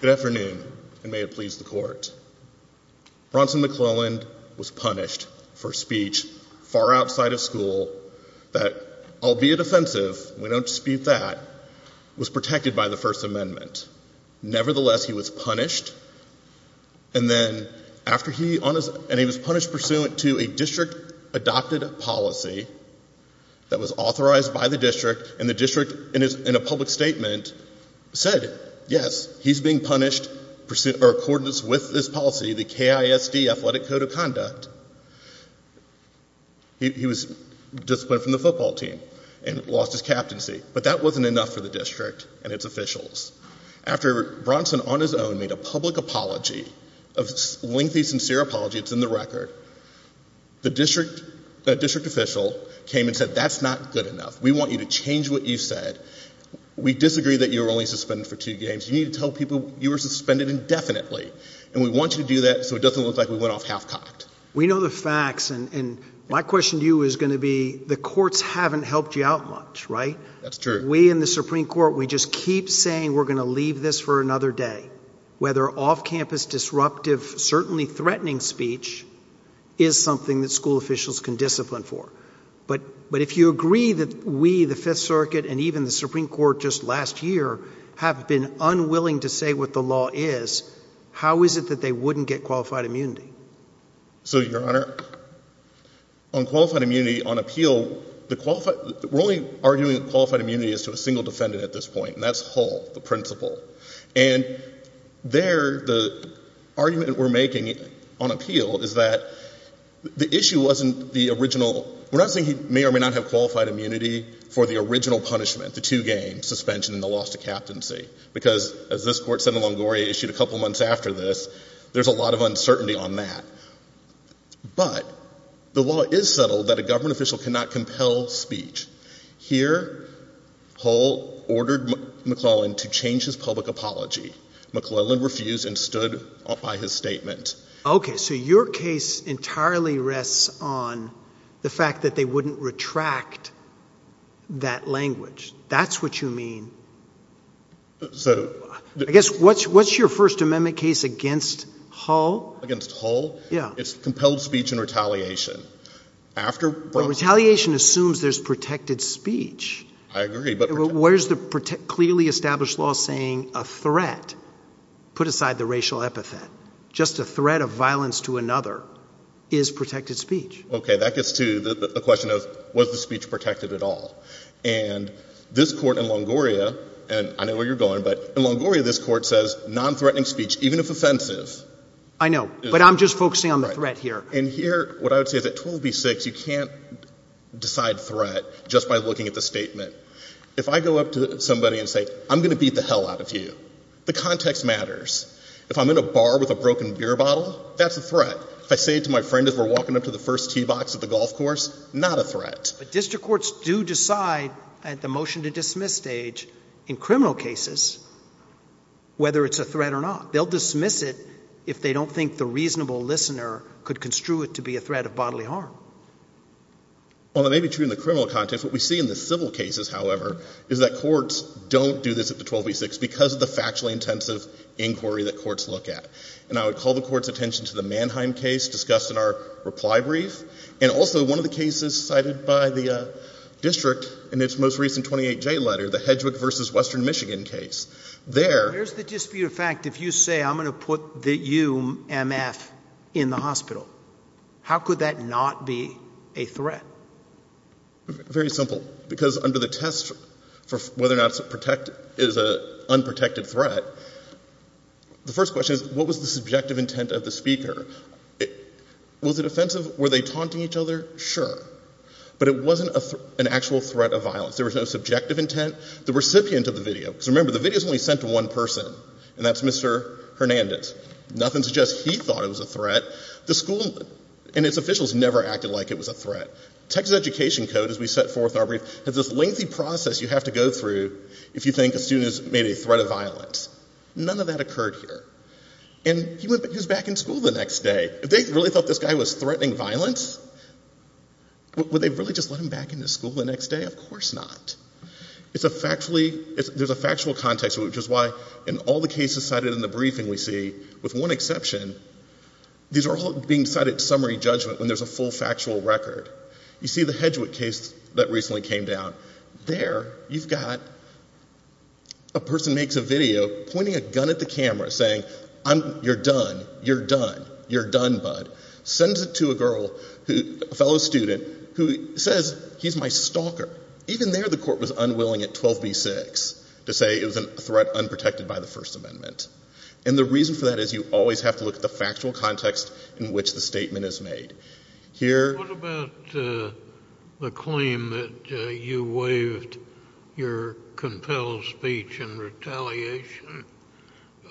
Good afternoon, and may it please the court. Bronson McClelland was punished for speech far outside of school that, albeit offensive, we don't dispute that, was protected by the First Amendment. Nevertheless, he was punished, and then after he, and he was punished pursuant to a district-adopted policy that was authorized by the district, and the district in a public statement said, yes, he's being punished pursuant, or in accordance with this policy, the KISD Athletic Code of Conduct, he was disciplined from the football team and lost his captaincy. But that wasn't enough for the district and its officials. After Bronson, on his own, made a public apology, a lengthy, sincere apology, it's in the record, the district official came and said, that's not good enough. We want you to change what you said. We disagree that you were only suspended for two games. You need to tell people you were suspended indefinitely, and we got off half-cocked. We know the facts, and my question to you is going to be, the courts haven't helped you out much, right? That's true. We in the Supreme Court, we just keep saying we're going to leave this for another day. Whether off-campus, disruptive, certainly threatening speech, is something that school officials can discipline for. But if you agree that we, the Fifth Circuit, and even the Supreme Court just last year, have been unwilling to say what the law is, how is it that they wouldn't get qualified immunity? So, Your Honor, on qualified immunity, on appeal, we're only arguing qualified immunity as to a single defendant at this point, and that's Hull, the principal. And there, the argument we're making on appeal is that the issue wasn't the original, we're not saying he may or may not have qualified immunity for the original punishment, the two games, suspension and the loss of captaincy. Because, as this court said in Longoria issued a couple months after this, there's a lot of uncertainty on that. But, the law is settled that a government official cannot compel speech. Here, Hull ordered McClellan to change his public apology. McClellan refused and stood by his statement. Okay, so your case entirely rests on the fact that they I guess, what's your First Amendment case against Hull? Against Hull? Yeah. It's compelled speech and retaliation. Retaliation assumes there's protected speech. I agree. Where's the clearly established law saying a threat, put aside the racial epithet, just a threat of violence to another is protected speech. Okay, that gets to the question of was the Longoria, this court says non-threatening speech, even if offensive. I know, but I'm just focusing on the threat here. And here, what I would say is that 12B6, you can't decide threat just by looking at the statement. If I go up to somebody and say, I'm going to beat the hell out of you. The context matters. If I'm in a bar with a broken beer bottle, that's a threat. If I say it to my friend as we're walking up to the first tee box at the golf course, not a threat. But district courts do decide at the motion to dismiss at this stage, in criminal cases, whether it's a threat or not. They'll dismiss it if they don't think the reasonable listener could construe it to be a threat of bodily harm. Well, it may be true in the criminal context. What we see in the civil cases, however, is that courts don't do this at the 12B6 because of the factually intensive inquiry that courts look at. And I would call the court's attention to the Mannheim case discussed in our reply brief and also one of the cases cited by the district in its most recent 28J letter, the Hedgwick v. Western Michigan case. There's the dispute of fact, if you say I'm going to put the UMF in the hospital, how could that not be a threat? Very simple. Because under the test for whether or not it's a unprotected threat, the first question is, what was the threat? Were they taunting each other? Sure. But it wasn't an actual threat of violence. There was no subjective intent. The recipient of the video, because remember, the video is only sent to one person, and that's Mr. Hernandez. Nothing suggests he thought it was a threat. The school and its officials never acted like it was a threat. Texas Education Code, as we set forth in our brief, has this lengthy process you have to go through if you think a student has made a threat of violence. None of that occurred here. And he was back in school the next day. If they really thought this guy was threatening violence, would they really just let him back into school the next day? Of course not. There's a factual context, which is why in all the cases cited in the briefing we see, with one exception, these are all being cited summary judgment when there's a full factual record. You see the Hedgwick case that recently came down. There, you've got a person makes a video pointing a gun at the camera saying, you're done, you're done, you're done, bud. Sends it to a girl, a fellow student, who says, he's my stalker. Even there the court was unwilling at 12B6 to say it was a threat unprotected by the First Amendment. And the reason for that is you always have to look at the factual context in which the statement is made. What about the claim that you waived your compelled speech and retaliation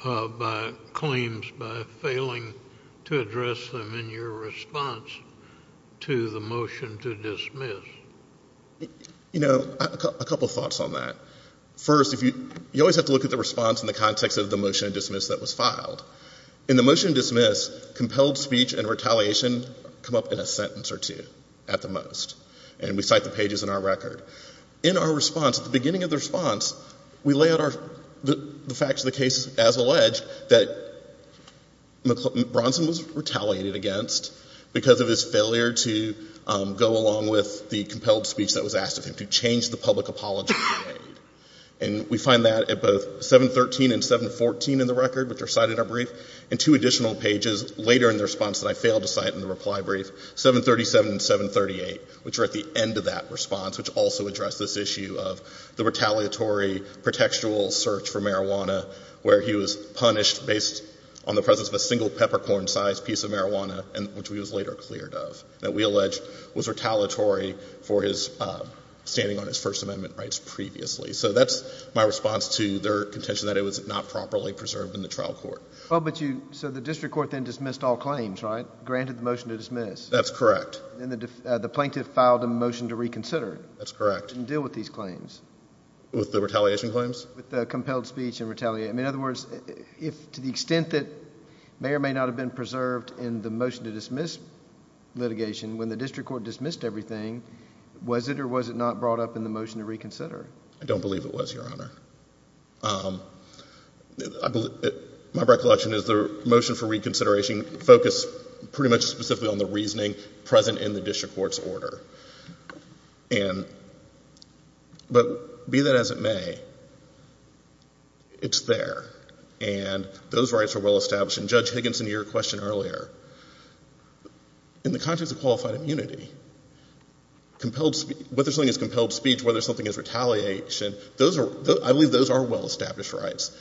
by claims by failing to address them in your response to the motion to dismiss? You know, a couple of thoughts on that. First, you always have to look at the response in the context of the motion to dismiss that was filed. In the motion to dismiss, compelled speech and retaliation come up in a sentence or two, at the most. And we cite the pages in our record. In our response, at the beginning of the response, we lay out the facts of the case as alleged that Bronson was retaliated against because of his failure to go along with the compelled speech that was asked of him to change the public apology he made. And we find that at both 713 and 714 in the record, which are cited in our brief, and two additional pages later in the response that I failed to cite in the reply brief, 737 and 738, which are at the end of that response, which also address this issue of the retaliatory, pretextual search for marijuana, where he was punished based on the presence of a single peppercorn-sized piece of marijuana, which he was later cleared of, that we allege was retaliatory for his standing on his First Amendment rights previously. So that's my response to their contention that it was not properly preserved in the trial court. So the district court then dismissed all claims, right? Granted the motion to dismiss. That's correct. And the plaintiff filed a motion to reconsider. That's correct. Didn't deal with these claims. With the retaliation claims? With the compelled speech and retaliation. In other words, to the extent that it may or may not have been preserved in the motion to dismiss litigation when the district court dismissed everything, was it or was it not brought up in the motion to reconsider? I don't believe it was, Your Honor. My recollection is the motion for reconsideration focused pretty much specifically on the reasoning present in the district court's order. But be that as it may, it's there. And those rights are well established. And Judge Higginson, to your question earlier, in the context of qualified immunity, whether something is compelled speech, whether something is retaliation, I believe those are well-established rights.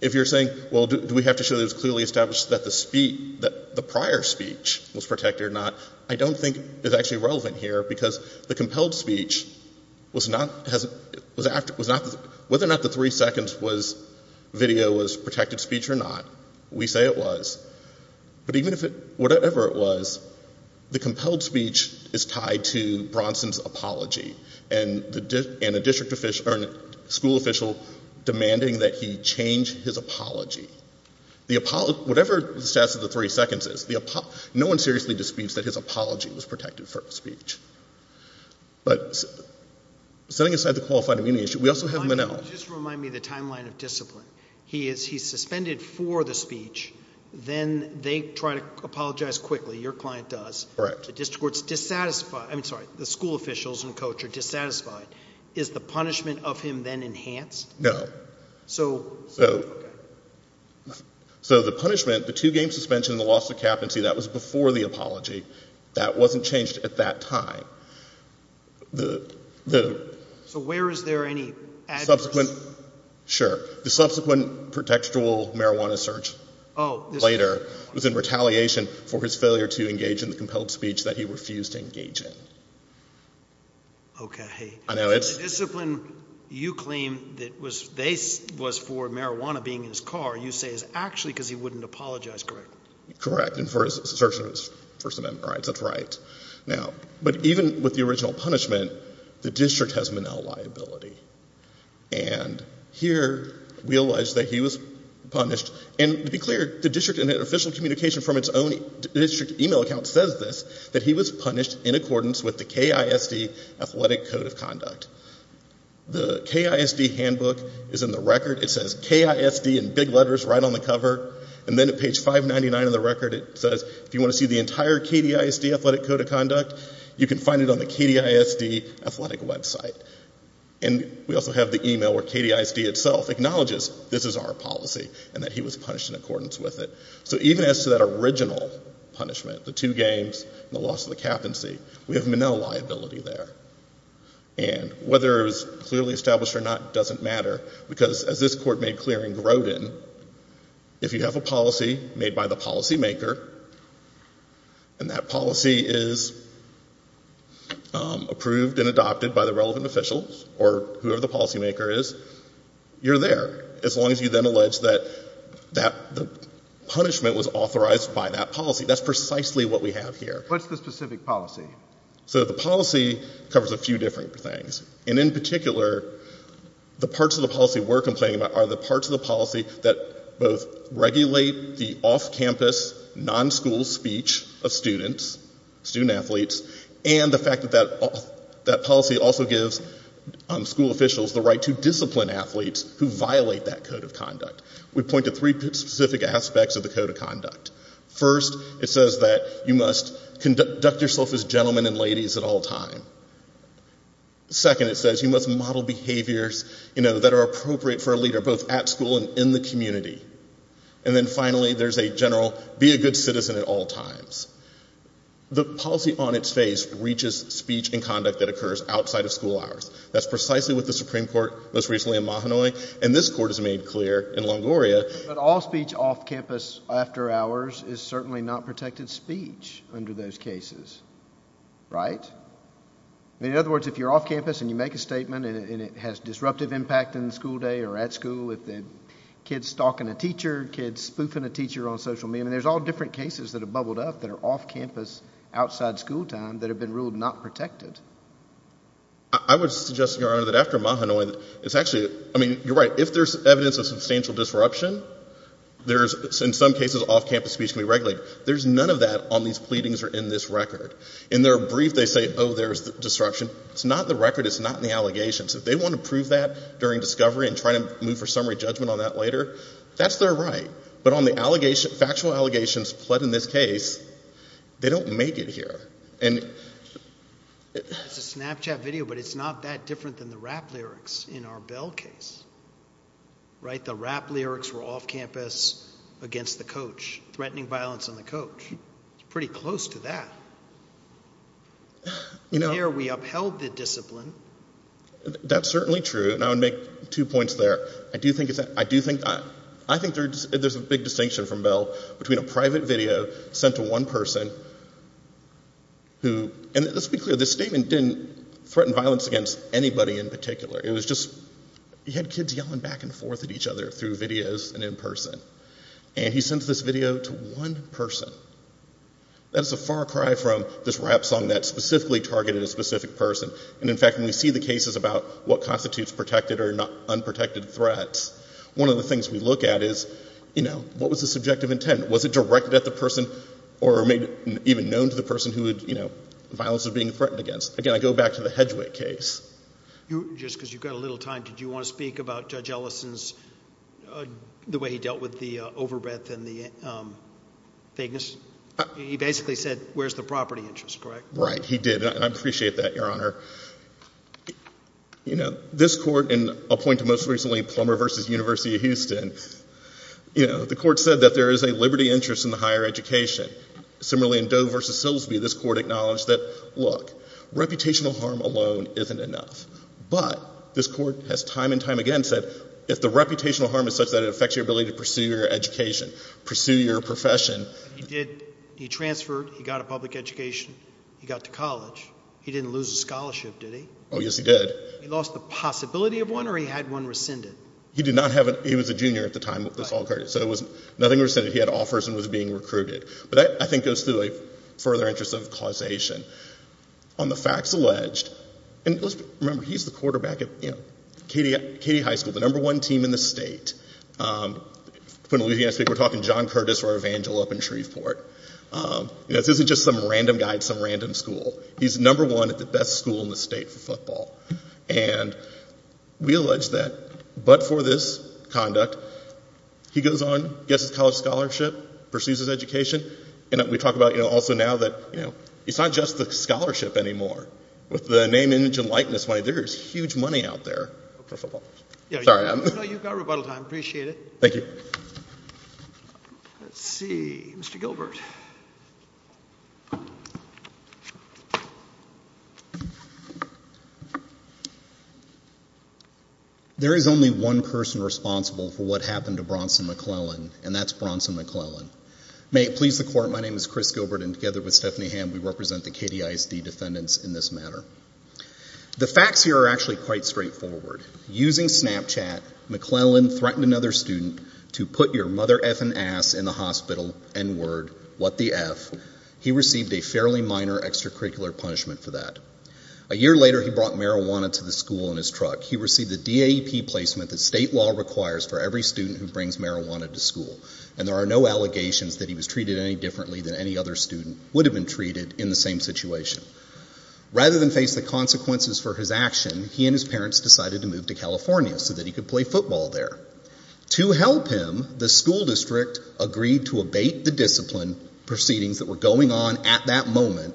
If you're saying, well, do we have to show that it's clearly established that the speech, that the prior speech was protected or not, I don't think it's actually relevant here. Because the compelled speech was not, whether or not the three seconds video was protected speech or not, we say it was. But even if it, whatever it was, the compelled speech is tied to Bronson's apology and a school official demanding that he change his apology. Whatever the status of the three seconds is, no one seriously disputes that his apology was protected for speech. But setting aside the qualified immunity issue, we also have Monell. Just remind me the timeline of discipline. He's suspended for the speech. Then they try to apologize quickly. Your client does. Correct. The district court's dissatisfied. I'm sorry. The school officials and coach are dissatisfied. Is the punishment of him then enhanced? No. So, okay. So the punishment, the two-game suspension and the loss of capacity, that was before the apology. That wasn't changed at that time. So where is there any address? Sure. The subsequent contextual marijuana search later was in retaliation for his failure to engage in the compelled speech that he refused to engage in. Okay. The discipline you claim that was for marijuana being in his car, you say is actually because he wouldn't apologize, correct? Correct. And for his search of his First Amendment rights. That's right. Now, but even with the original punishment, the district has Monell liability. And here we allege that he was punished. And to be clear, the district in an official communication from its own district email account says this, that he was punished in accordance with the KISD athletic code of conduct. The KISD handbook is in the record. It says KISD in big letters right on the cover. And then at page 599 of the record it says, if you want to see the entire KDISD athletic code of conduct, you can find it on the KDISD athletic website. And we also have the email where KDISD itself acknowledges this is our policy and that he was punished in accordance with it. So even as to that original punishment, the two games and the loss of the cap and see, we have Monell liability there. And whether it was clearly established or not doesn't matter because as this court made clear in Grodin, if you have a policy made by the policymaker and that policy is approved and adopted by the relevant official or whoever the policymaker is, you're there as long as you then allege that the punishment was authorized by that policy. That's precisely what we have here. What's the specific policy? So the policy covers a few different things. And in particular, the parts of the policy we're complaining about are the parts of the policy that both regulate the off-campus, non-school speech of students, student-athletes, and the fact that that policy also gives school officials the right to discipline athletes who violate that code of conduct. We point to three specific aspects of the code of conduct. First, it says that you must conduct yourself as gentlemen and ladies at all times. Second, it says you must model behaviors that are appropriate for a leader both at school and in the community. And then finally, there's a general, be a good citizen at all times. The policy on its face reaches speech and conduct that occurs outside of school hours. That's precisely what the Supreme Court most recently in Mahanoy and this court has made clear in Longoria. But all speech off-campus after hours is certainly not protected speech under those cases, right? In other words, if you're off-campus and you make a statement and it has disruptive impact in the school day or at school, if the kid's stalking a teacher, kid's spoofing a teacher on social media, I mean, there's all different cases that have bubbled up that are off-campus outside school time that have been ruled not protected. I would suggest, Your Honor, that after Mahanoy, it's actually, I mean, you're right. If there's evidence of substantial disruption, there's, in some cases, off-campus speech can be regulated. There's none of that on these pleadings or in this record. In their brief, they say, oh, there's disruption. It's not in the record. It's not in the allegations. If they want to prove that during discovery and try to move for summary judgment on that later, that's their right. But on the allegations, factual allegations pled in this case, they don't make it here. It's a Snapchat video, but it's not that different than the rap lyrics in our Bell case, right? The rap lyrics were off-campus against the coach, threatening violence on the coach. It's pretty close to that. Here, we upheld the discipline. That's certainly true, and I would make two points there. I do think there's a big distinction from Bell between a private video sent to one person who, and let's be clear, this statement didn't threaten violence against anybody in particular. It was just, he had kids yelling back and forth at each other through videos and in person. And he sends this video to one person. That is a far cry from this rap song that specifically targeted a specific person. And, in fact, when we see the cases about what constitutes protected or unprotected threats, one of the things we look at is, you know, what was the subjective intent? Was it directed at the person or made even known to the person who violence was being threatened against? Again, I go back to the Hedgewick case. Just because you've got a little time, did you want to speak about Judge Ellison's, the way he dealt with the overbreath and the vagueness? He basically said, where's the property interest, correct? Right, he did. And I appreciate that, Your Honor. You know, this court, and I'll point to most recently Plummer v. University of Houston, you know, the court said that there is a liberty interest in the higher education. Similarly, in Doe v. Silsby, this court acknowledged that, look, reputational harm alone isn't enough. But this court has time and time again said, if the reputational harm is such that it affects your ability to pursue your education, pursue your profession. He did. He transferred. He got a public education. He got to college. He didn't lose a scholarship, did he? Oh, yes, he did. He lost the possibility of one or he had one rescinded? He did not have it. He was a junior at the time. So it was nothing rescinded. He had offers and was being recruited. But I think it goes through a further interest of causation. On the facts alleged, and remember, he's the quarterback of, you know, Katie High School, the number one team in the state. We're talking John Curtis or Evangel up in Shreveport. This isn't just some random guy at some random school. He's number one at the best school in the state for football. And we allege that, but for this conduct, he goes on, gets his college scholarship, pursues his education. And we talk about, you know, also now that, you know, it's not just the scholarship anymore. With the name, image, and likeness money, there is huge money out there for football. Sorry, Adam. No, you've got rebuttal time. Appreciate it. Thank you. Let's see. Mr. Gilbert. There is only one person responsible for what happened to Bronson McClellan, and that's Bronson McClellan. May it please the court, my name is Chris Gilbert, and together with Stephanie Hamm, we represent the KDISD defendants in this matter. The facts here are actually quite straightforward. Using Snapchat, McClellan threatened another student to put your mother-effing ass in the hospital, N-word, what the F. He received a fairly minor extracurricular punishment for that. A year later, he brought marijuana to the school in his truck. He received a DAP placement that state law requires for every student who brings marijuana to school. And there are no allegations that he was treated any differently than any other student would have been treated in the same situation. Rather than face the consequences for his action, he and his parents decided to move to California so that he could play football there. To help him, the school district agreed to abate the discipline proceedings that were going on at that moment,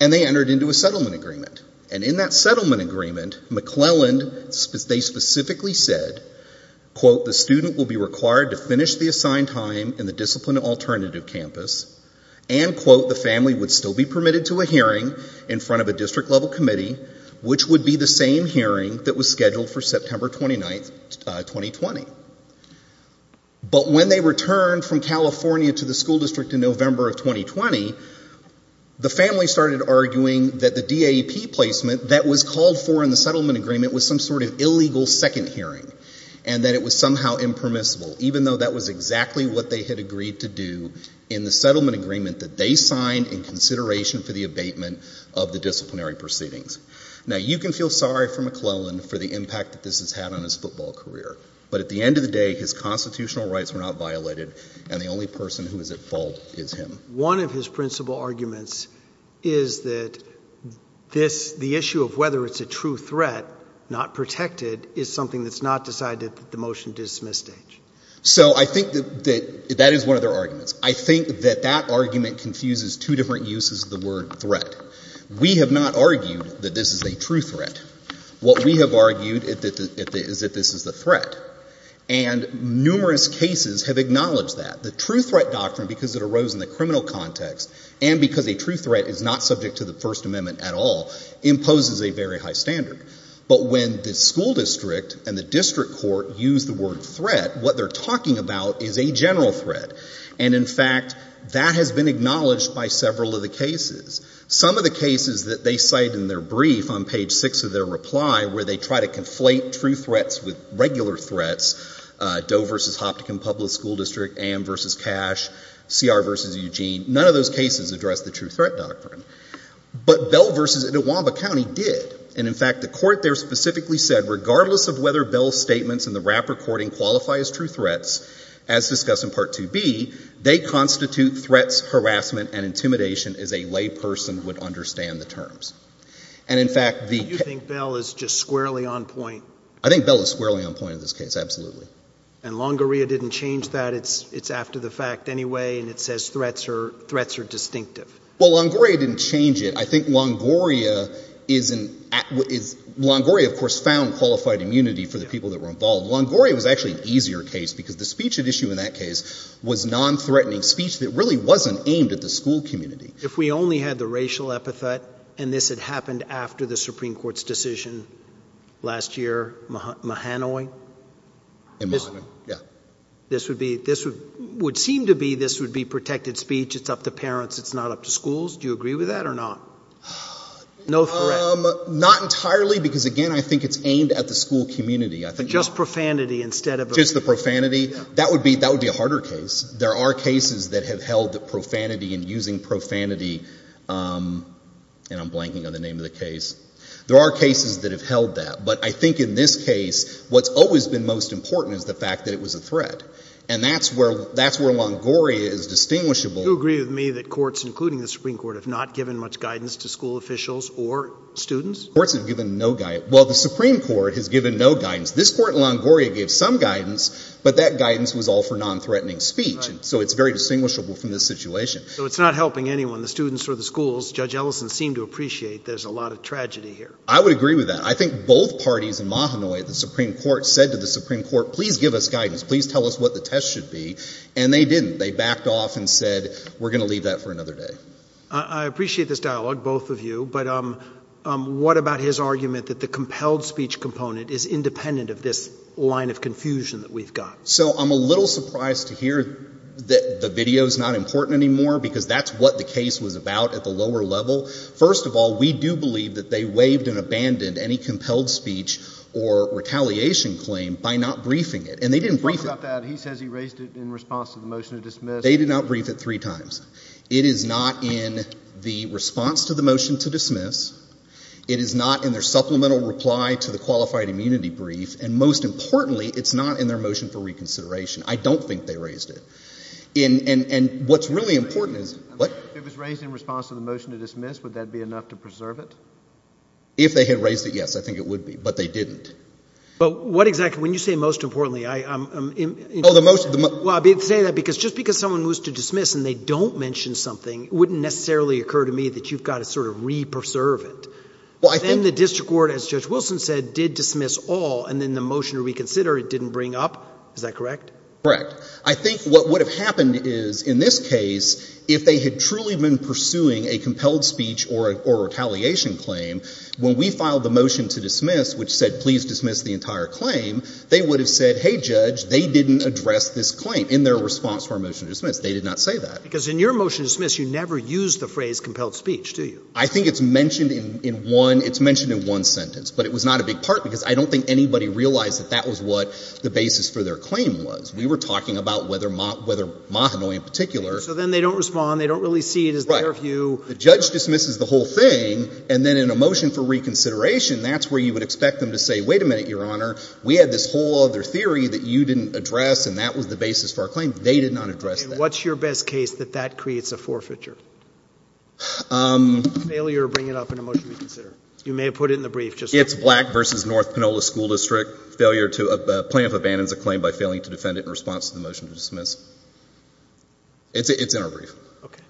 and they entered into a settlement agreement. And in that settlement agreement, McClellan, they specifically said, quote, the student will be required to finish the assigned time in the discipline alternative campus, and, quote, the family would still be permitted to a hearing in front of a district-level committee, which would be the same hearing that was scheduled for September 29, 2020. But when they returned from California to the school district in November of 2020, the family started arguing that the DAP placement that was called for in the settlement agreement was some sort of illegal second hearing, and that it was somehow impermissible, even though that was exactly what they had agreed to do in the settlement agreement that they signed in consideration for the abatement of the disciplinary proceedings. Now, you can feel sorry for McClellan for the impact that this has had on his football career, but at the end of the day, his constitutional rights were not violated, and the only person who is at fault is him. One of his principal arguments is that this, the issue of whether it's a true threat, not protected, is something that's not decided at the motion dismiss stage. So I think that that is one of their arguments. I think that that argument confuses two different uses of the word threat. We have not argued that this is a true threat. What we have argued is that this is the threat, and numerous cases have acknowledged that. The true threat doctrine, because it arose in the criminal context and because a true threat is not subject to the First Amendment at all, imposes a very high standard. But when the school district and the district court use the word threat, what they're talking about is a general threat. And, in fact, that has been acknowledged by several of the cases. Some of the cases that they cite in their brief on page 6 of their reply, where they try to conflate true threats with regular threats, Doe v. Hoptican Public School District, A.M. v. Cash, C.R. v. Eugene, none of those cases address the true threat doctrine. But Bell v. Etiwamba County did. And, in fact, the court there specifically said, regardless of whether Bell's statements in the rap recording qualify as true threats, as discussed in Part 2B, they constitute threats, harassment, and intimidation as a lay person would understand the terms. And, in fact, the — Do you think Bell is just squarely on point? I think Bell is squarely on point in this case, absolutely. And Longoria didn't change that. It's after the fact anyway, and it says threats are distinctive. Well, Longoria didn't change it. I think Longoria is — Longoria, of course, found qualified immunity for the people that were involved. Longoria was actually an easier case because the speech at issue in that case was nonthreatening speech that really wasn't aimed at the school community. If we only had the racial epithet, and this had happened after the Supreme Court's decision last year, Mahanoi — In Mahanoi, yeah. This would seem to be this would be protected speech. It's up to parents. It's not up to schools. Do you agree with that or not? No threat. Not entirely because, again, I think it's aimed at the school community. But just profanity instead of — Just the profanity. That would be a harder case. There are cases that have held that profanity and using profanity — and I'm blanking on the name of the case. There are cases that have held that. But I think in this case, what's always been most important is the fact that it was a threat. And that's where Longoria is distinguishable. Do you agree with me that courts, including the Supreme Court, have not given much guidance to school officials or students? Courts have given no guidance. Well, the Supreme Court has given no guidance. This Court in Longoria gave some guidance, but that guidance was all for nonthreatening speech. So it's very distinguishable from this situation. So it's not helping anyone, the students or the schools. Judge Ellison seemed to appreciate there's a lot of tragedy here. I would agree with that. I think both parties in Mahanoy at the Supreme Court said to the Supreme Court, please give us guidance, please tell us what the test should be, and they didn't. They backed off and said, we're going to leave that for another day. I appreciate this dialogue, both of you. But what about his argument that the compelled speech component is independent of this line of confusion that we've got? So I'm a little surprised to hear that the video is not important anymore because that's what the case was about at the lower level. First of all, we do believe that they waived and abandoned any compelled speech or retaliation claim by not briefing it. And they didn't brief it. He talks about that. He says he raised it in response to the motion to dismiss. They did not brief it three times. It is not in the response to the motion to dismiss. It is not in their supplemental reply to the qualified immunity brief. And most importantly, it's not in their motion for reconsideration. I don't think they raised it. And what's really important is – If it was raised in response to the motion to dismiss, would that be enough to preserve it? If they had raised it, yes, I think it would be. But they didn't. But what exactly – when you say most importantly, I'm – Oh, the motion – Well, I say that because just because someone moves to dismiss and they don't mention something, it wouldn't necessarily occur to me that you've got to sort of re-preserve it. Then the district court, as Judge Wilson said, did dismiss all, and then the motion to reconsider it didn't bring up. Is that correct? Correct. I think what would have happened is, in this case, if they had truly been pursuing a compelled speech or retaliation claim, when we filed the motion to dismiss, which said please dismiss the entire claim, they would have said, hey, Judge, they didn't address this claim in their response to our motion to dismiss. They did not say that. Because in your motion to dismiss, you never used the phrase compelled speech, do you? I think it's mentioned in one – it's mentioned in one sentence. But it was not a big part because I don't think anybody realized that that was what the basis for their claim was. We were talking about whether Mahanoy in particular – So then they don't respond. They don't really see it as their view. Right. The judge dismisses the whole thing, and then in a motion for reconsideration, that's where you would expect them to say, wait a minute, Your Honor, we had this whole other theory that you didn't address, and that was the basis for our claim. They did not address that. And what's your best case that that creates a forfeiture? Failure to bring it up in a motion to reconsider. You may have put it in the brief just now. It's Black v. North Panola School District, failure to – plaintiff abandons a claim by failing to defend it in response to the motion to dismiss. It's in our brief. Okay.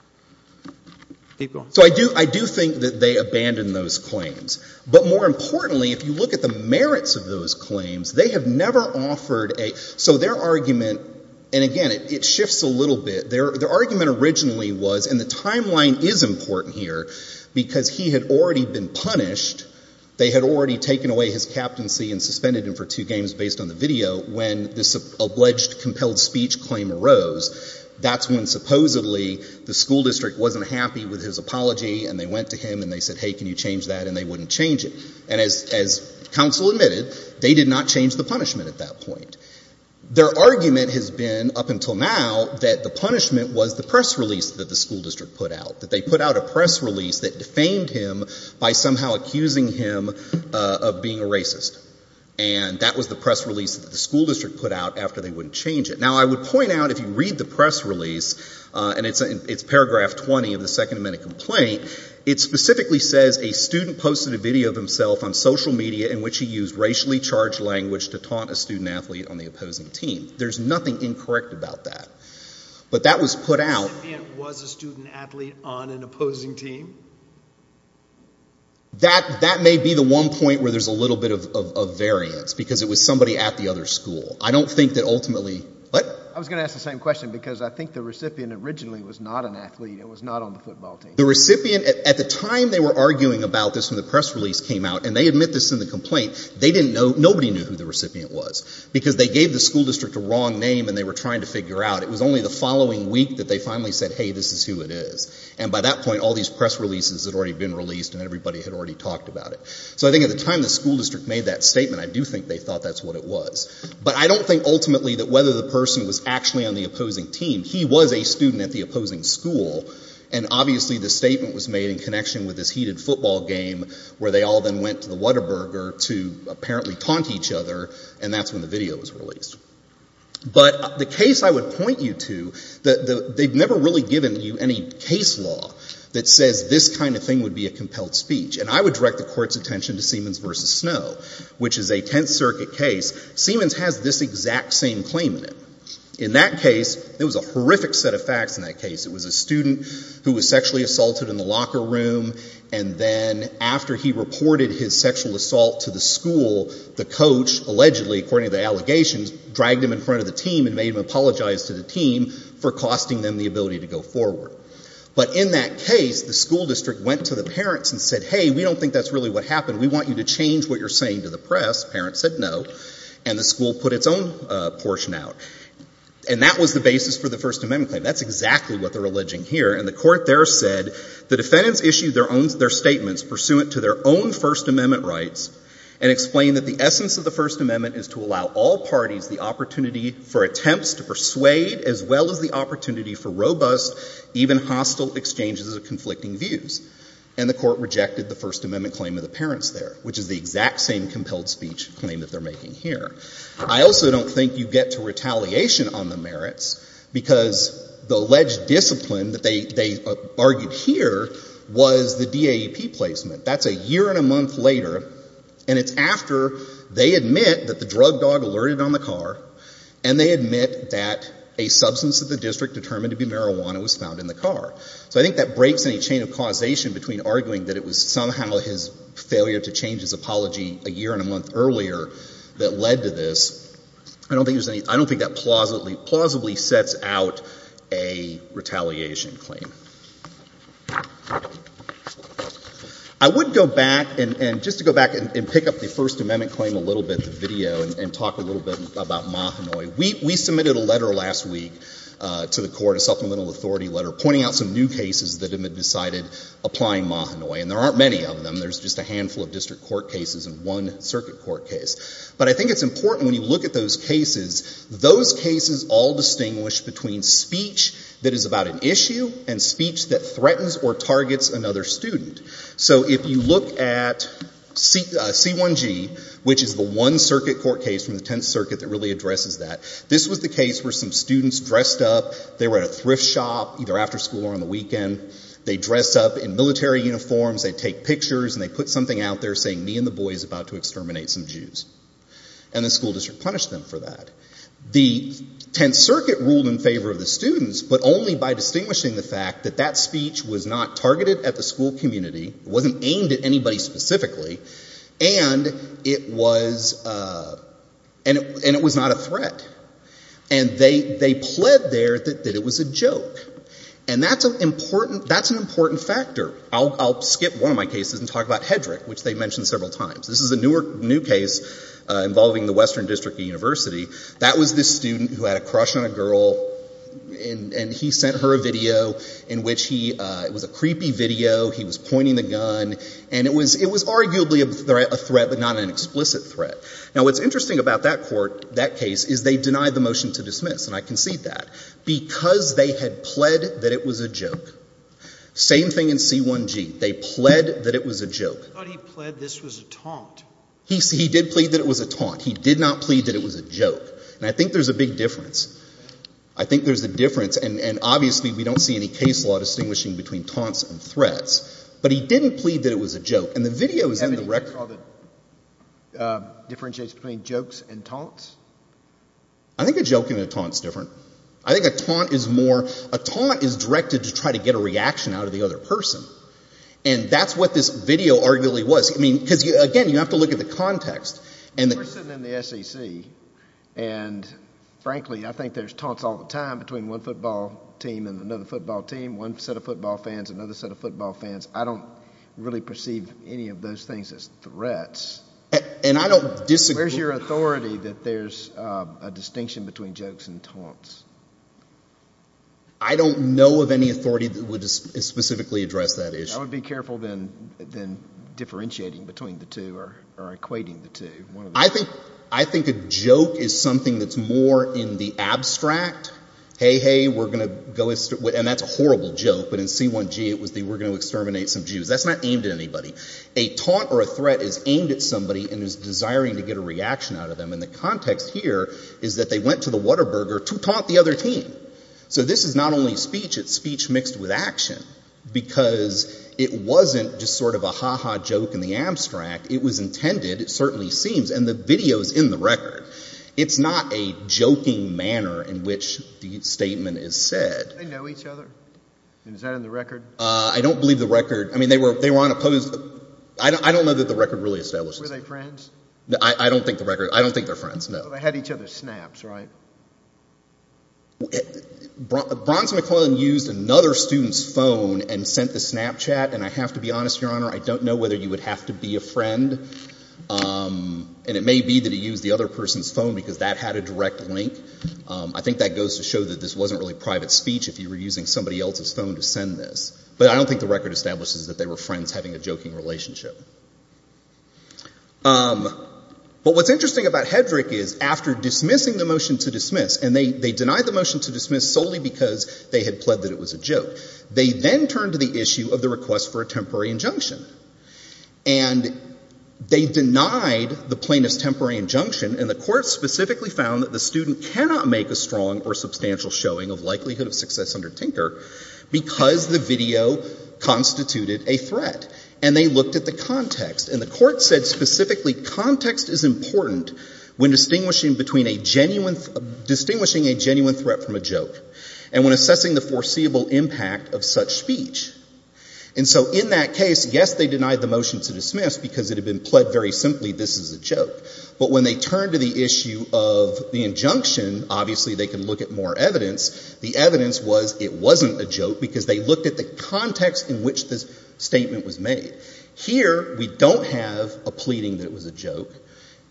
Keep going. So I do think that they abandon those claims. But more importantly, if you look at the merits of those claims, they have never offered a – so their argument – and again, it shifts a little bit. Their argument originally was – and the timeline is important here because he had already been punished. They had already taken away his captaincy and suspended him for two games based on the video when this alleged compelled speech claim arose. That's when supposedly the school district wasn't happy with his apology and they went to him and they said, hey, can you change that? And they wouldn't change it. And as counsel admitted, they did not change the punishment at that point. Their argument has been up until now that the punishment was the press release that the school district put out, that they put out a press release that defamed him by somehow accusing him of being a racist. And that was the press release that the school district put out after they wouldn't change it. Now, I would point out if you read the press release, and it's paragraph 20 of the Second Amendment complaint, it specifically says a student posted a video of himself on social media in which he used racially charged language to taunt a student athlete on the opposing team. There's nothing incorrect about that. But that was put out – Was the student athlete on an opposing team? That may be the one point where there's a little bit of variance because it was somebody at the other school. I don't think that ultimately – what? I was going to ask the same question because I think the recipient originally was not an athlete. It was not on the football team. The recipient – at the time they were arguing about this when the press release came out and they admit this in the complaint, they didn't know – nobody knew who the recipient was because they gave the school district a wrong name and they were trying to figure out. It was only the following week that they finally said, hey, this is who it is. And by that point, all these press releases had already been released and everybody had already talked about it. So I think at the time the school district made that statement, I do think they thought that's what it was. But I don't think ultimately that whether the person was actually on the opposing team, he was a student at the opposing school and obviously the statement was made in connection with this heated football game where they all then went to the Whataburger to apparently taunt each other and that's when the video was released. But the case I would point you to, they've never really given you any case law that says this kind of thing would be a compelled speech. And I would direct the Court's attention to Siemens v. Snow, which is a Tenth Circuit case. Siemens has this exact same claim in it. In that case, there was a horrific set of facts in that case. It was a student who was sexually assaulted in the locker room and then after he reported his sexual assault to the school, the coach allegedly, according to the allegations, dragged him in front of the team and made him apologize to the team for costing them the ability to go forward. But in that case, the school district went to the parents and said, hey, we don't think that's really what happened. We want you to change what you're saying to the press. Parents said no. And the school put its own portion out. And that was the basis for the First Amendment claim. That's exactly what they're alleging here. And the Court there said, the defendants issued their statements pursuant to their own First Amendment rights and explained that the essence of the First Amendment is to allow all parties the opportunity for attempts to persuade as well as the opportunity for robust, even hostile exchanges of conflicting views. And the Court rejected the First Amendment claim of the parents there, which is the exact same compelled speech claim that they're making here. I also don't think you get to retaliation on the merits because the alleged discipline that they argued here was the DAEP placement. That's a year and a month later, and it's after they admit that the drug dog alerted on the car, and they admit that a substance of the district determined to be marijuana was found in the car. So I think that breaks any chain of causation between arguing that it was somehow his failure to change his apology a year and a month earlier that led to this. I don't think that plausibly sets out a retaliation claim. I would go back, and just to go back and pick up the First Amendment claim a little bit, the video, and talk a little bit about Mahanoy. We submitted a letter last week to the Court, a supplemental authority letter, pointing out some new cases that have been decided applying Mahanoy, and there aren't many of them. There's just a handful of district court cases and one circuit court case. But I think it's important when you look at those cases, those cases all distinguish between speech that is about an issue and speech that threatens or targets another student. So if you look at C1G, which is the one circuit court case from the Tenth Circuit that really addresses that, this was the case where some students dressed up, they were at a thrift shop, either after school or on the weekend, they dress up in military uniforms, they take pictures, and they put something out there saying, me and the boys about to exterminate some Jews. And the school district punished them for that. The Tenth Circuit ruled in favor of the students, but only by distinguishing the fact that that speech was not targeted at the school community, it wasn't aimed at anybody specifically, and it was not a threat. And they pled there that it was a joke. And that's an important factor. I'll skip one of my cases and talk about Hedrick, which they mentioned several times. This is a new case involving the Western District University. That was this student who had a crush on a girl, and he sent her a video in which he — it was a creepy video, he was pointing the gun, and it was arguably a threat, but not an explicit threat. Now, what's interesting about that court, that case, is they denied the motion to dismiss, and I concede that. Because they had pled that it was a joke. Same thing in C1G. They pled that it was a joke. I thought he pled this was a taunt. He did plead that it was a taunt. He did not plead that it was a joke. And I think there's a big difference. I think there's a difference. And obviously we don't see any case law distinguishing between taunts and threats. But he didn't plead that it was a joke. And the video is in the record. Have any of you saw the differentiation between jokes and taunts? I think a joke and a taunt is different. I think a taunt is more — a taunt is directed to try to get a reaction out of the other person. And that's what this video arguably was. I mean, because, again, you have to look at the context. You're sitting in the SEC, and, frankly, I think there's taunts all the time between one football team and another football team, one set of football fans, another set of football fans. I don't really perceive any of those things as threats. And I don't — Where's your authority that there's a distinction between jokes and taunts? I don't know of any authority that would specifically address that issue. I would be careful than differentiating between the two or equating the two. I think a joke is something that's more in the abstract. Hey, hey, we're going to go — and that's a horrible joke. But in C1G it was the we're going to exterminate some Jews. That's not aimed at anybody. A taunt or a threat is aimed at somebody and is desiring to get a reaction out of them. And the context here is that they went to the Whataburger to taunt the other team. So this is not only speech. It's speech mixed with action. Because it wasn't just sort of a ha-ha joke in the abstract. It was intended, it certainly seems, and the video is in the record. It's not a joking manner in which the statement is said. Do they know each other? Is that in the record? I don't believe the record — I mean, they were on a — I don't know that the record really establishes that. Were they friends? I don't think the record — I don't think they're friends, no. They had each other's snaps, right? Bronson McClellan used another student's phone and sent the Snapchat. And I have to be honest, Your Honor, I don't know whether you would have to be a friend. And it may be that he used the other person's phone because that had a direct link. I think that goes to show that this wasn't really private speech if you were using somebody else's phone to send this. But I don't think the record establishes that they were friends having a joking relationship. But what's interesting about Hedrick is, after dismissing the motion to dismiss — and they denied the motion to dismiss solely because they had pled that it was a joke — they then turned to the issue of the request for a temporary injunction. And they denied the plaintiff's temporary injunction, and the court specifically found that the student cannot make a strong or substantial showing of likelihood of success under Tinker because the video constituted a threat. And they looked at the context, and the court said specifically, context is important when distinguishing a genuine threat from a joke, and when assessing the foreseeable impact of such speech. And so in that case, yes, they denied the motion to dismiss because it had been pled very simply, this is a joke. But when they turned to the issue of the injunction, obviously they could look at more evidence. The evidence was it wasn't a joke because they looked at the context in which this statement was made. Here, we don't have a pleading that it was a joke,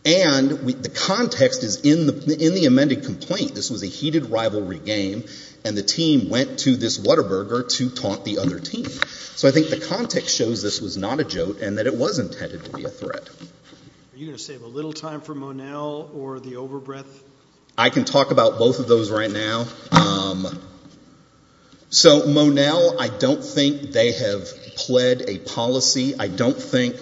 and the context is in the amended complaint. This was a heated rivalry game, and the team went to this Whataburger to taunt the other team. So I think the context shows this was not a joke and that it was intended to be a threat. Are you going to save a little time for Monell or the overbreath? I can talk about both of those right now. So Monell, I don't think they have pled a policy. I don't think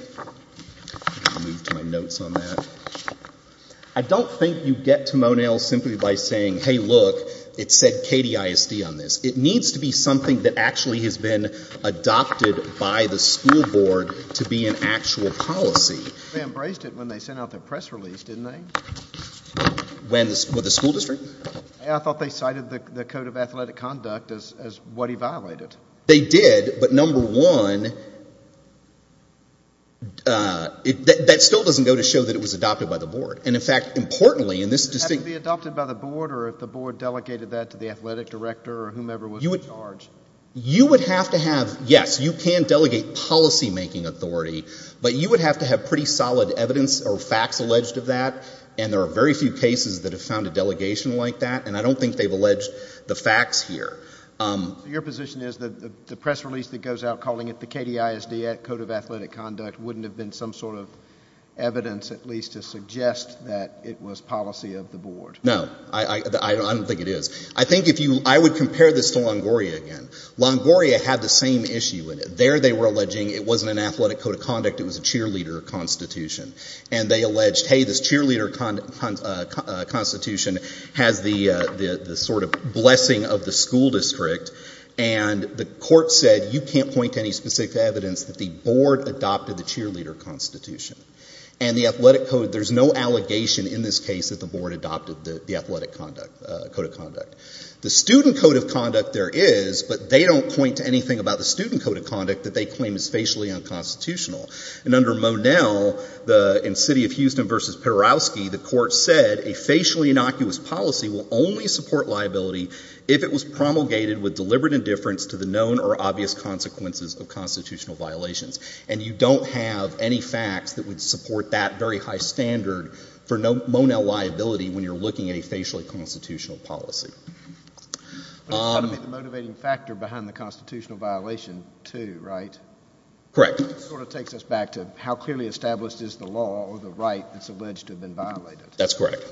you get to Monell simply by saying, hey, look, it said KDISD on this. It needs to be something that actually has been adopted by the school board to be an actual policy. They embraced it when they sent out the press release, didn't they? With the school district? I thought they cited the Code of Athletic Conduct as what he violated. They did, but number one, that still doesn't go to show that it was adopted by the board. And, in fact, importantly in this distinct Had it been adopted by the board or if the board delegated that to the athletic director or whomever was in charge? You would have to have, yes, you can delegate policymaking authority, but you would have to have pretty solid evidence or facts alleged of that, and there are very few cases that have found a delegation like that, and I don't think they've alleged the facts here. So your position is that the press release that goes out calling it the KDISD Code of Athletic Conduct wouldn't have been some sort of evidence at least to suggest that it was policy of the board? No. I don't think it is. I think if you – I would compare this to Longoria again. Longoria had the same issue. There they were alleging it wasn't an athletic code of conduct, it was a cheerleader constitution. And they alleged, hey, this cheerleader constitution has the sort of blessing of the school district, and the court said you can't point to any specific evidence that the board adopted the cheerleader constitution. And the athletic code – there's no allegation in this case that the board adopted the athletic code of conduct. The student code of conduct there is, but they don't point to anything about the student code of conduct that they claim is facially unconstitutional. And under Monell, in City of Houston v. Perowski, the court said a facially innocuous policy will only support liability if it was promulgated with deliberate indifference to the known or obvious consequences of constitutional violations. And you don't have any facts that would support that very high standard for Monell liability when you're looking at a facially constitutional policy. But it's got to be the motivating factor behind the constitutional violation too, right? Correct. And that sort of takes us back to how clearly established is the law or the right that's alleged to have been violated. That's correct.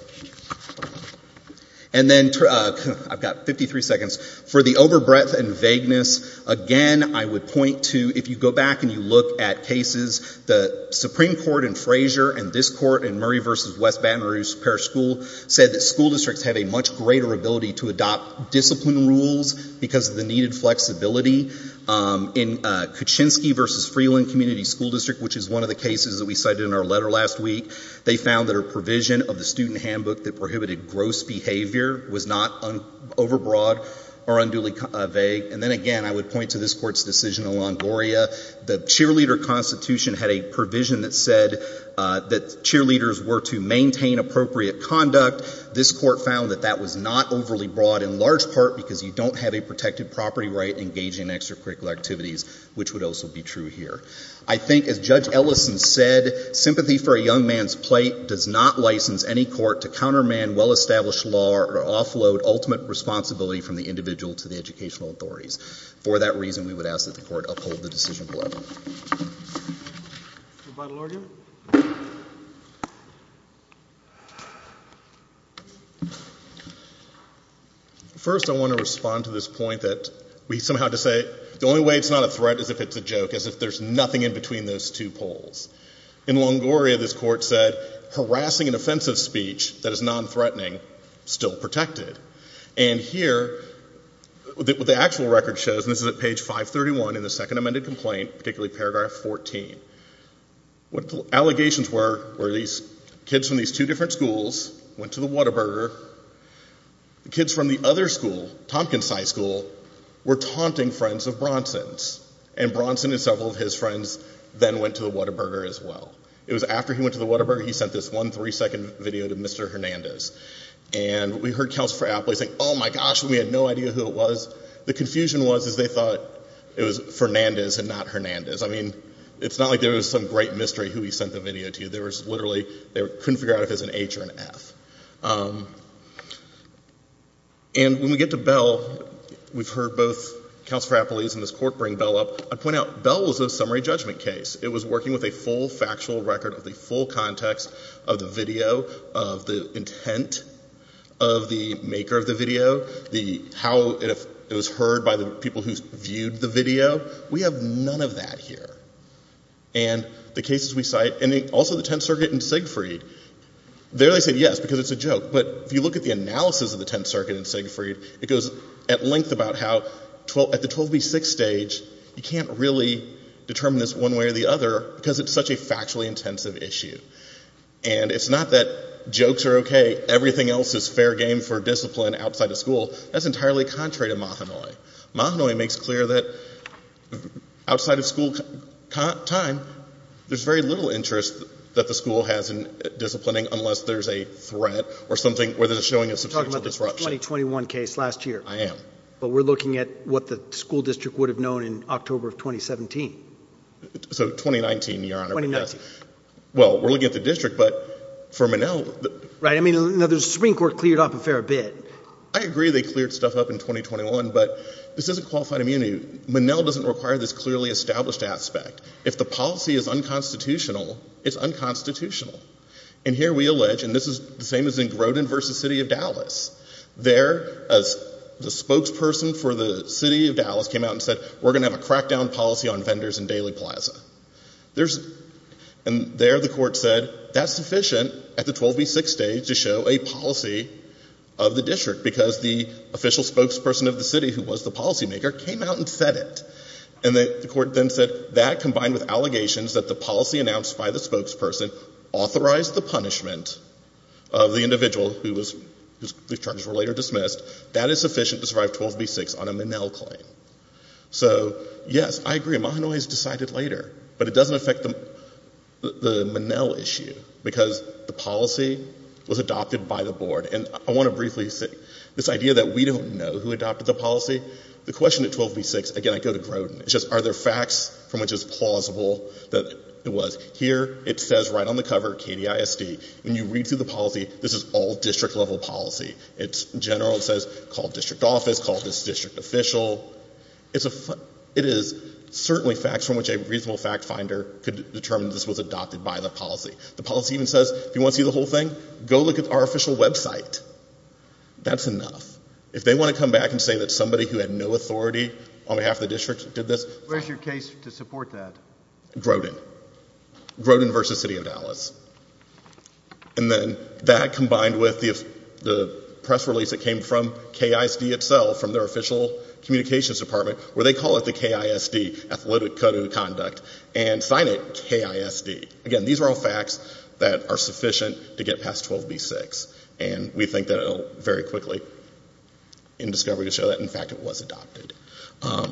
And then – I've got 53 seconds. For the overbreadth and vagueness, again, I would point to – if you go back and you look at cases, the Supreme Court in Frazier and this court in Murray v. West Baton Rouge Parish School said that school districts had a much greater ability to adopt discipline rules because of the needed flexibility. In Kuczynski v. Freeland Community School District, which is one of the cases that we cited in our letter last week, they found that a provision of the student handbook that prohibited gross behavior was not overbroad or unduly vague. And then again, I would point to this court's decision in Longoria. The cheerleader constitution had a provision that said that cheerleaders were to maintain appropriate conduct. This court found that that was not overly broad in large part because you don't have a protected property right engaging in extracurricular activities, which would also be true here. I think, as Judge Ellison said, sympathy for a young man's plate does not license any court to counterman well-established law or offload ultimate responsibility from the individual to the educational authorities. For that reason, we would ask that the court uphold the decision below. Your final argument? First, I want to respond to this point that we somehow had to say the only way it's not a threat is if it's a joke, as if there's nothing in between those two poles. In Longoria, this court said harassing an offensive speech that is non-threatening is still protected. And here, the actual record shows, and this is at page 531 in the second amended complaint, particularly paragraph 14, what the allegations were were these kids from these two different schools went to the Whataburger. The kids from the other school, Tompkins High School, were taunting friends of Bronson's. And Bronson and several of his friends then went to the Whataburger as well. It was after he went to the Whataburger, he sent this one three-second video to Mr. Hernandez. And we heard Counsel for Applies saying, oh, my gosh, when we had no idea who it was, the confusion was is they thought it was Fernandez and not Hernandez. I mean, it's not like there was some great mystery who he sent the video to. They couldn't figure out if it was an H or an F. And when we get to Bell, we've heard both Counsel for Applies and this court bring Bell up. I'd point out Bell was a summary judgment case. It was working with a full factual record of the full context of the video, of the intent of the maker of the video, how it was heard by the people who viewed the video. We have none of that here. And the cases we cite, and also the Tenth Circuit and Siegfried, there they said yes because it's a joke. But if you look at the analysis of the Tenth Circuit and Siegfried, it goes at length about how at the 12B6 stage, you can't really determine this one way or the other because it's such a factually intensive issue. And it's not that jokes are okay, everything else is fair game for discipline outside of school. That's entirely contrary to Mahanoy. Mahanoy makes clear that outside of school time, there's very little interest that the school has in disciplining unless there's a threat or something where they're showing a substantial disruption. You're talking about the 2021 case last year. I am. But we're looking at what the school district would have known in October of 2017. So 2019, Your Honor. 2019. Well, we're looking at the district, but for Monell. Right. I mean, the Supreme Court cleared up a fair bit. I agree they cleared stuff up in 2021, but this isn't qualified immunity. Monell doesn't require this clearly established aspect. If the policy is unconstitutional, it's unconstitutional. And here we allege, and this is the same as in Grodin versus City of Dallas. There, as the spokesperson for the City of Dallas came out and said, we're going to have a crackdown policy on vendors in Daily Plaza. And there the court said, that's sufficient at the 12B6 stage to show a policy of the district because the official spokesperson of the city, who was the policymaker, came out and said it. And the court then said, that combined with allegations that the policy announced by the spokesperson authorized the punishment of the individual whose terms were later dismissed, that is sufficient to survive 12B6 on a Monell claim. So, yes, I agree. Mahanoy has decided later, but it doesn't affect the Monell issue because the policy was adopted by the board. And I want to briefly say this idea that we don't know who adopted the policy. The question at 12B6, again, I go to Grodin, it's just are there facts from which it's plausible that it was. Here it says right on the cover, KDISD. When you read through the policy, this is all district-level policy. It's general. It says call district office, call this district official. It is certainly facts from which a reasonable fact finder could determine this was adopted by the policy. The policy even says, if you want to see the whole thing, go look at our official website. That's enough. If they want to come back and say that somebody who had no authority on behalf of the district did this. Where's your case to support that? Grodin. Grodin v. City of Dallas. And then that combined with the press release that came from KISD itself, from their official communications department, where they call it the KISD, Athletic Code of Conduct, and sign it KISD. Again, these are all facts that are sufficient to get past 12B6. And we think that it will very quickly, in discovery, show that, in fact, it was adopted. I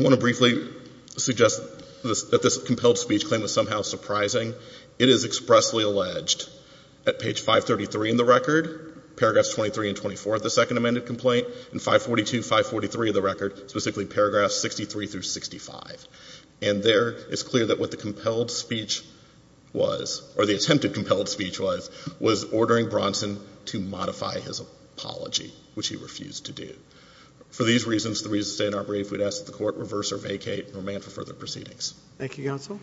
want to briefly suggest that this compelled speech claim was somehow surprising. It is expressly alleged at page 533 in the record, paragraphs 23 and 24 of the second amended complaint, and 542 and 543 of the record, specifically paragraphs 63 through 65. And there it's clear that what the compelled speech was, or the attempted compelled speech was, was ordering Bronson to modify his apology, which he refused to do. For these reasons, the reason to stay in our brief, we'd ask that the Court reverse or vacate, and remain for further proceedings. Thank you, Counsel.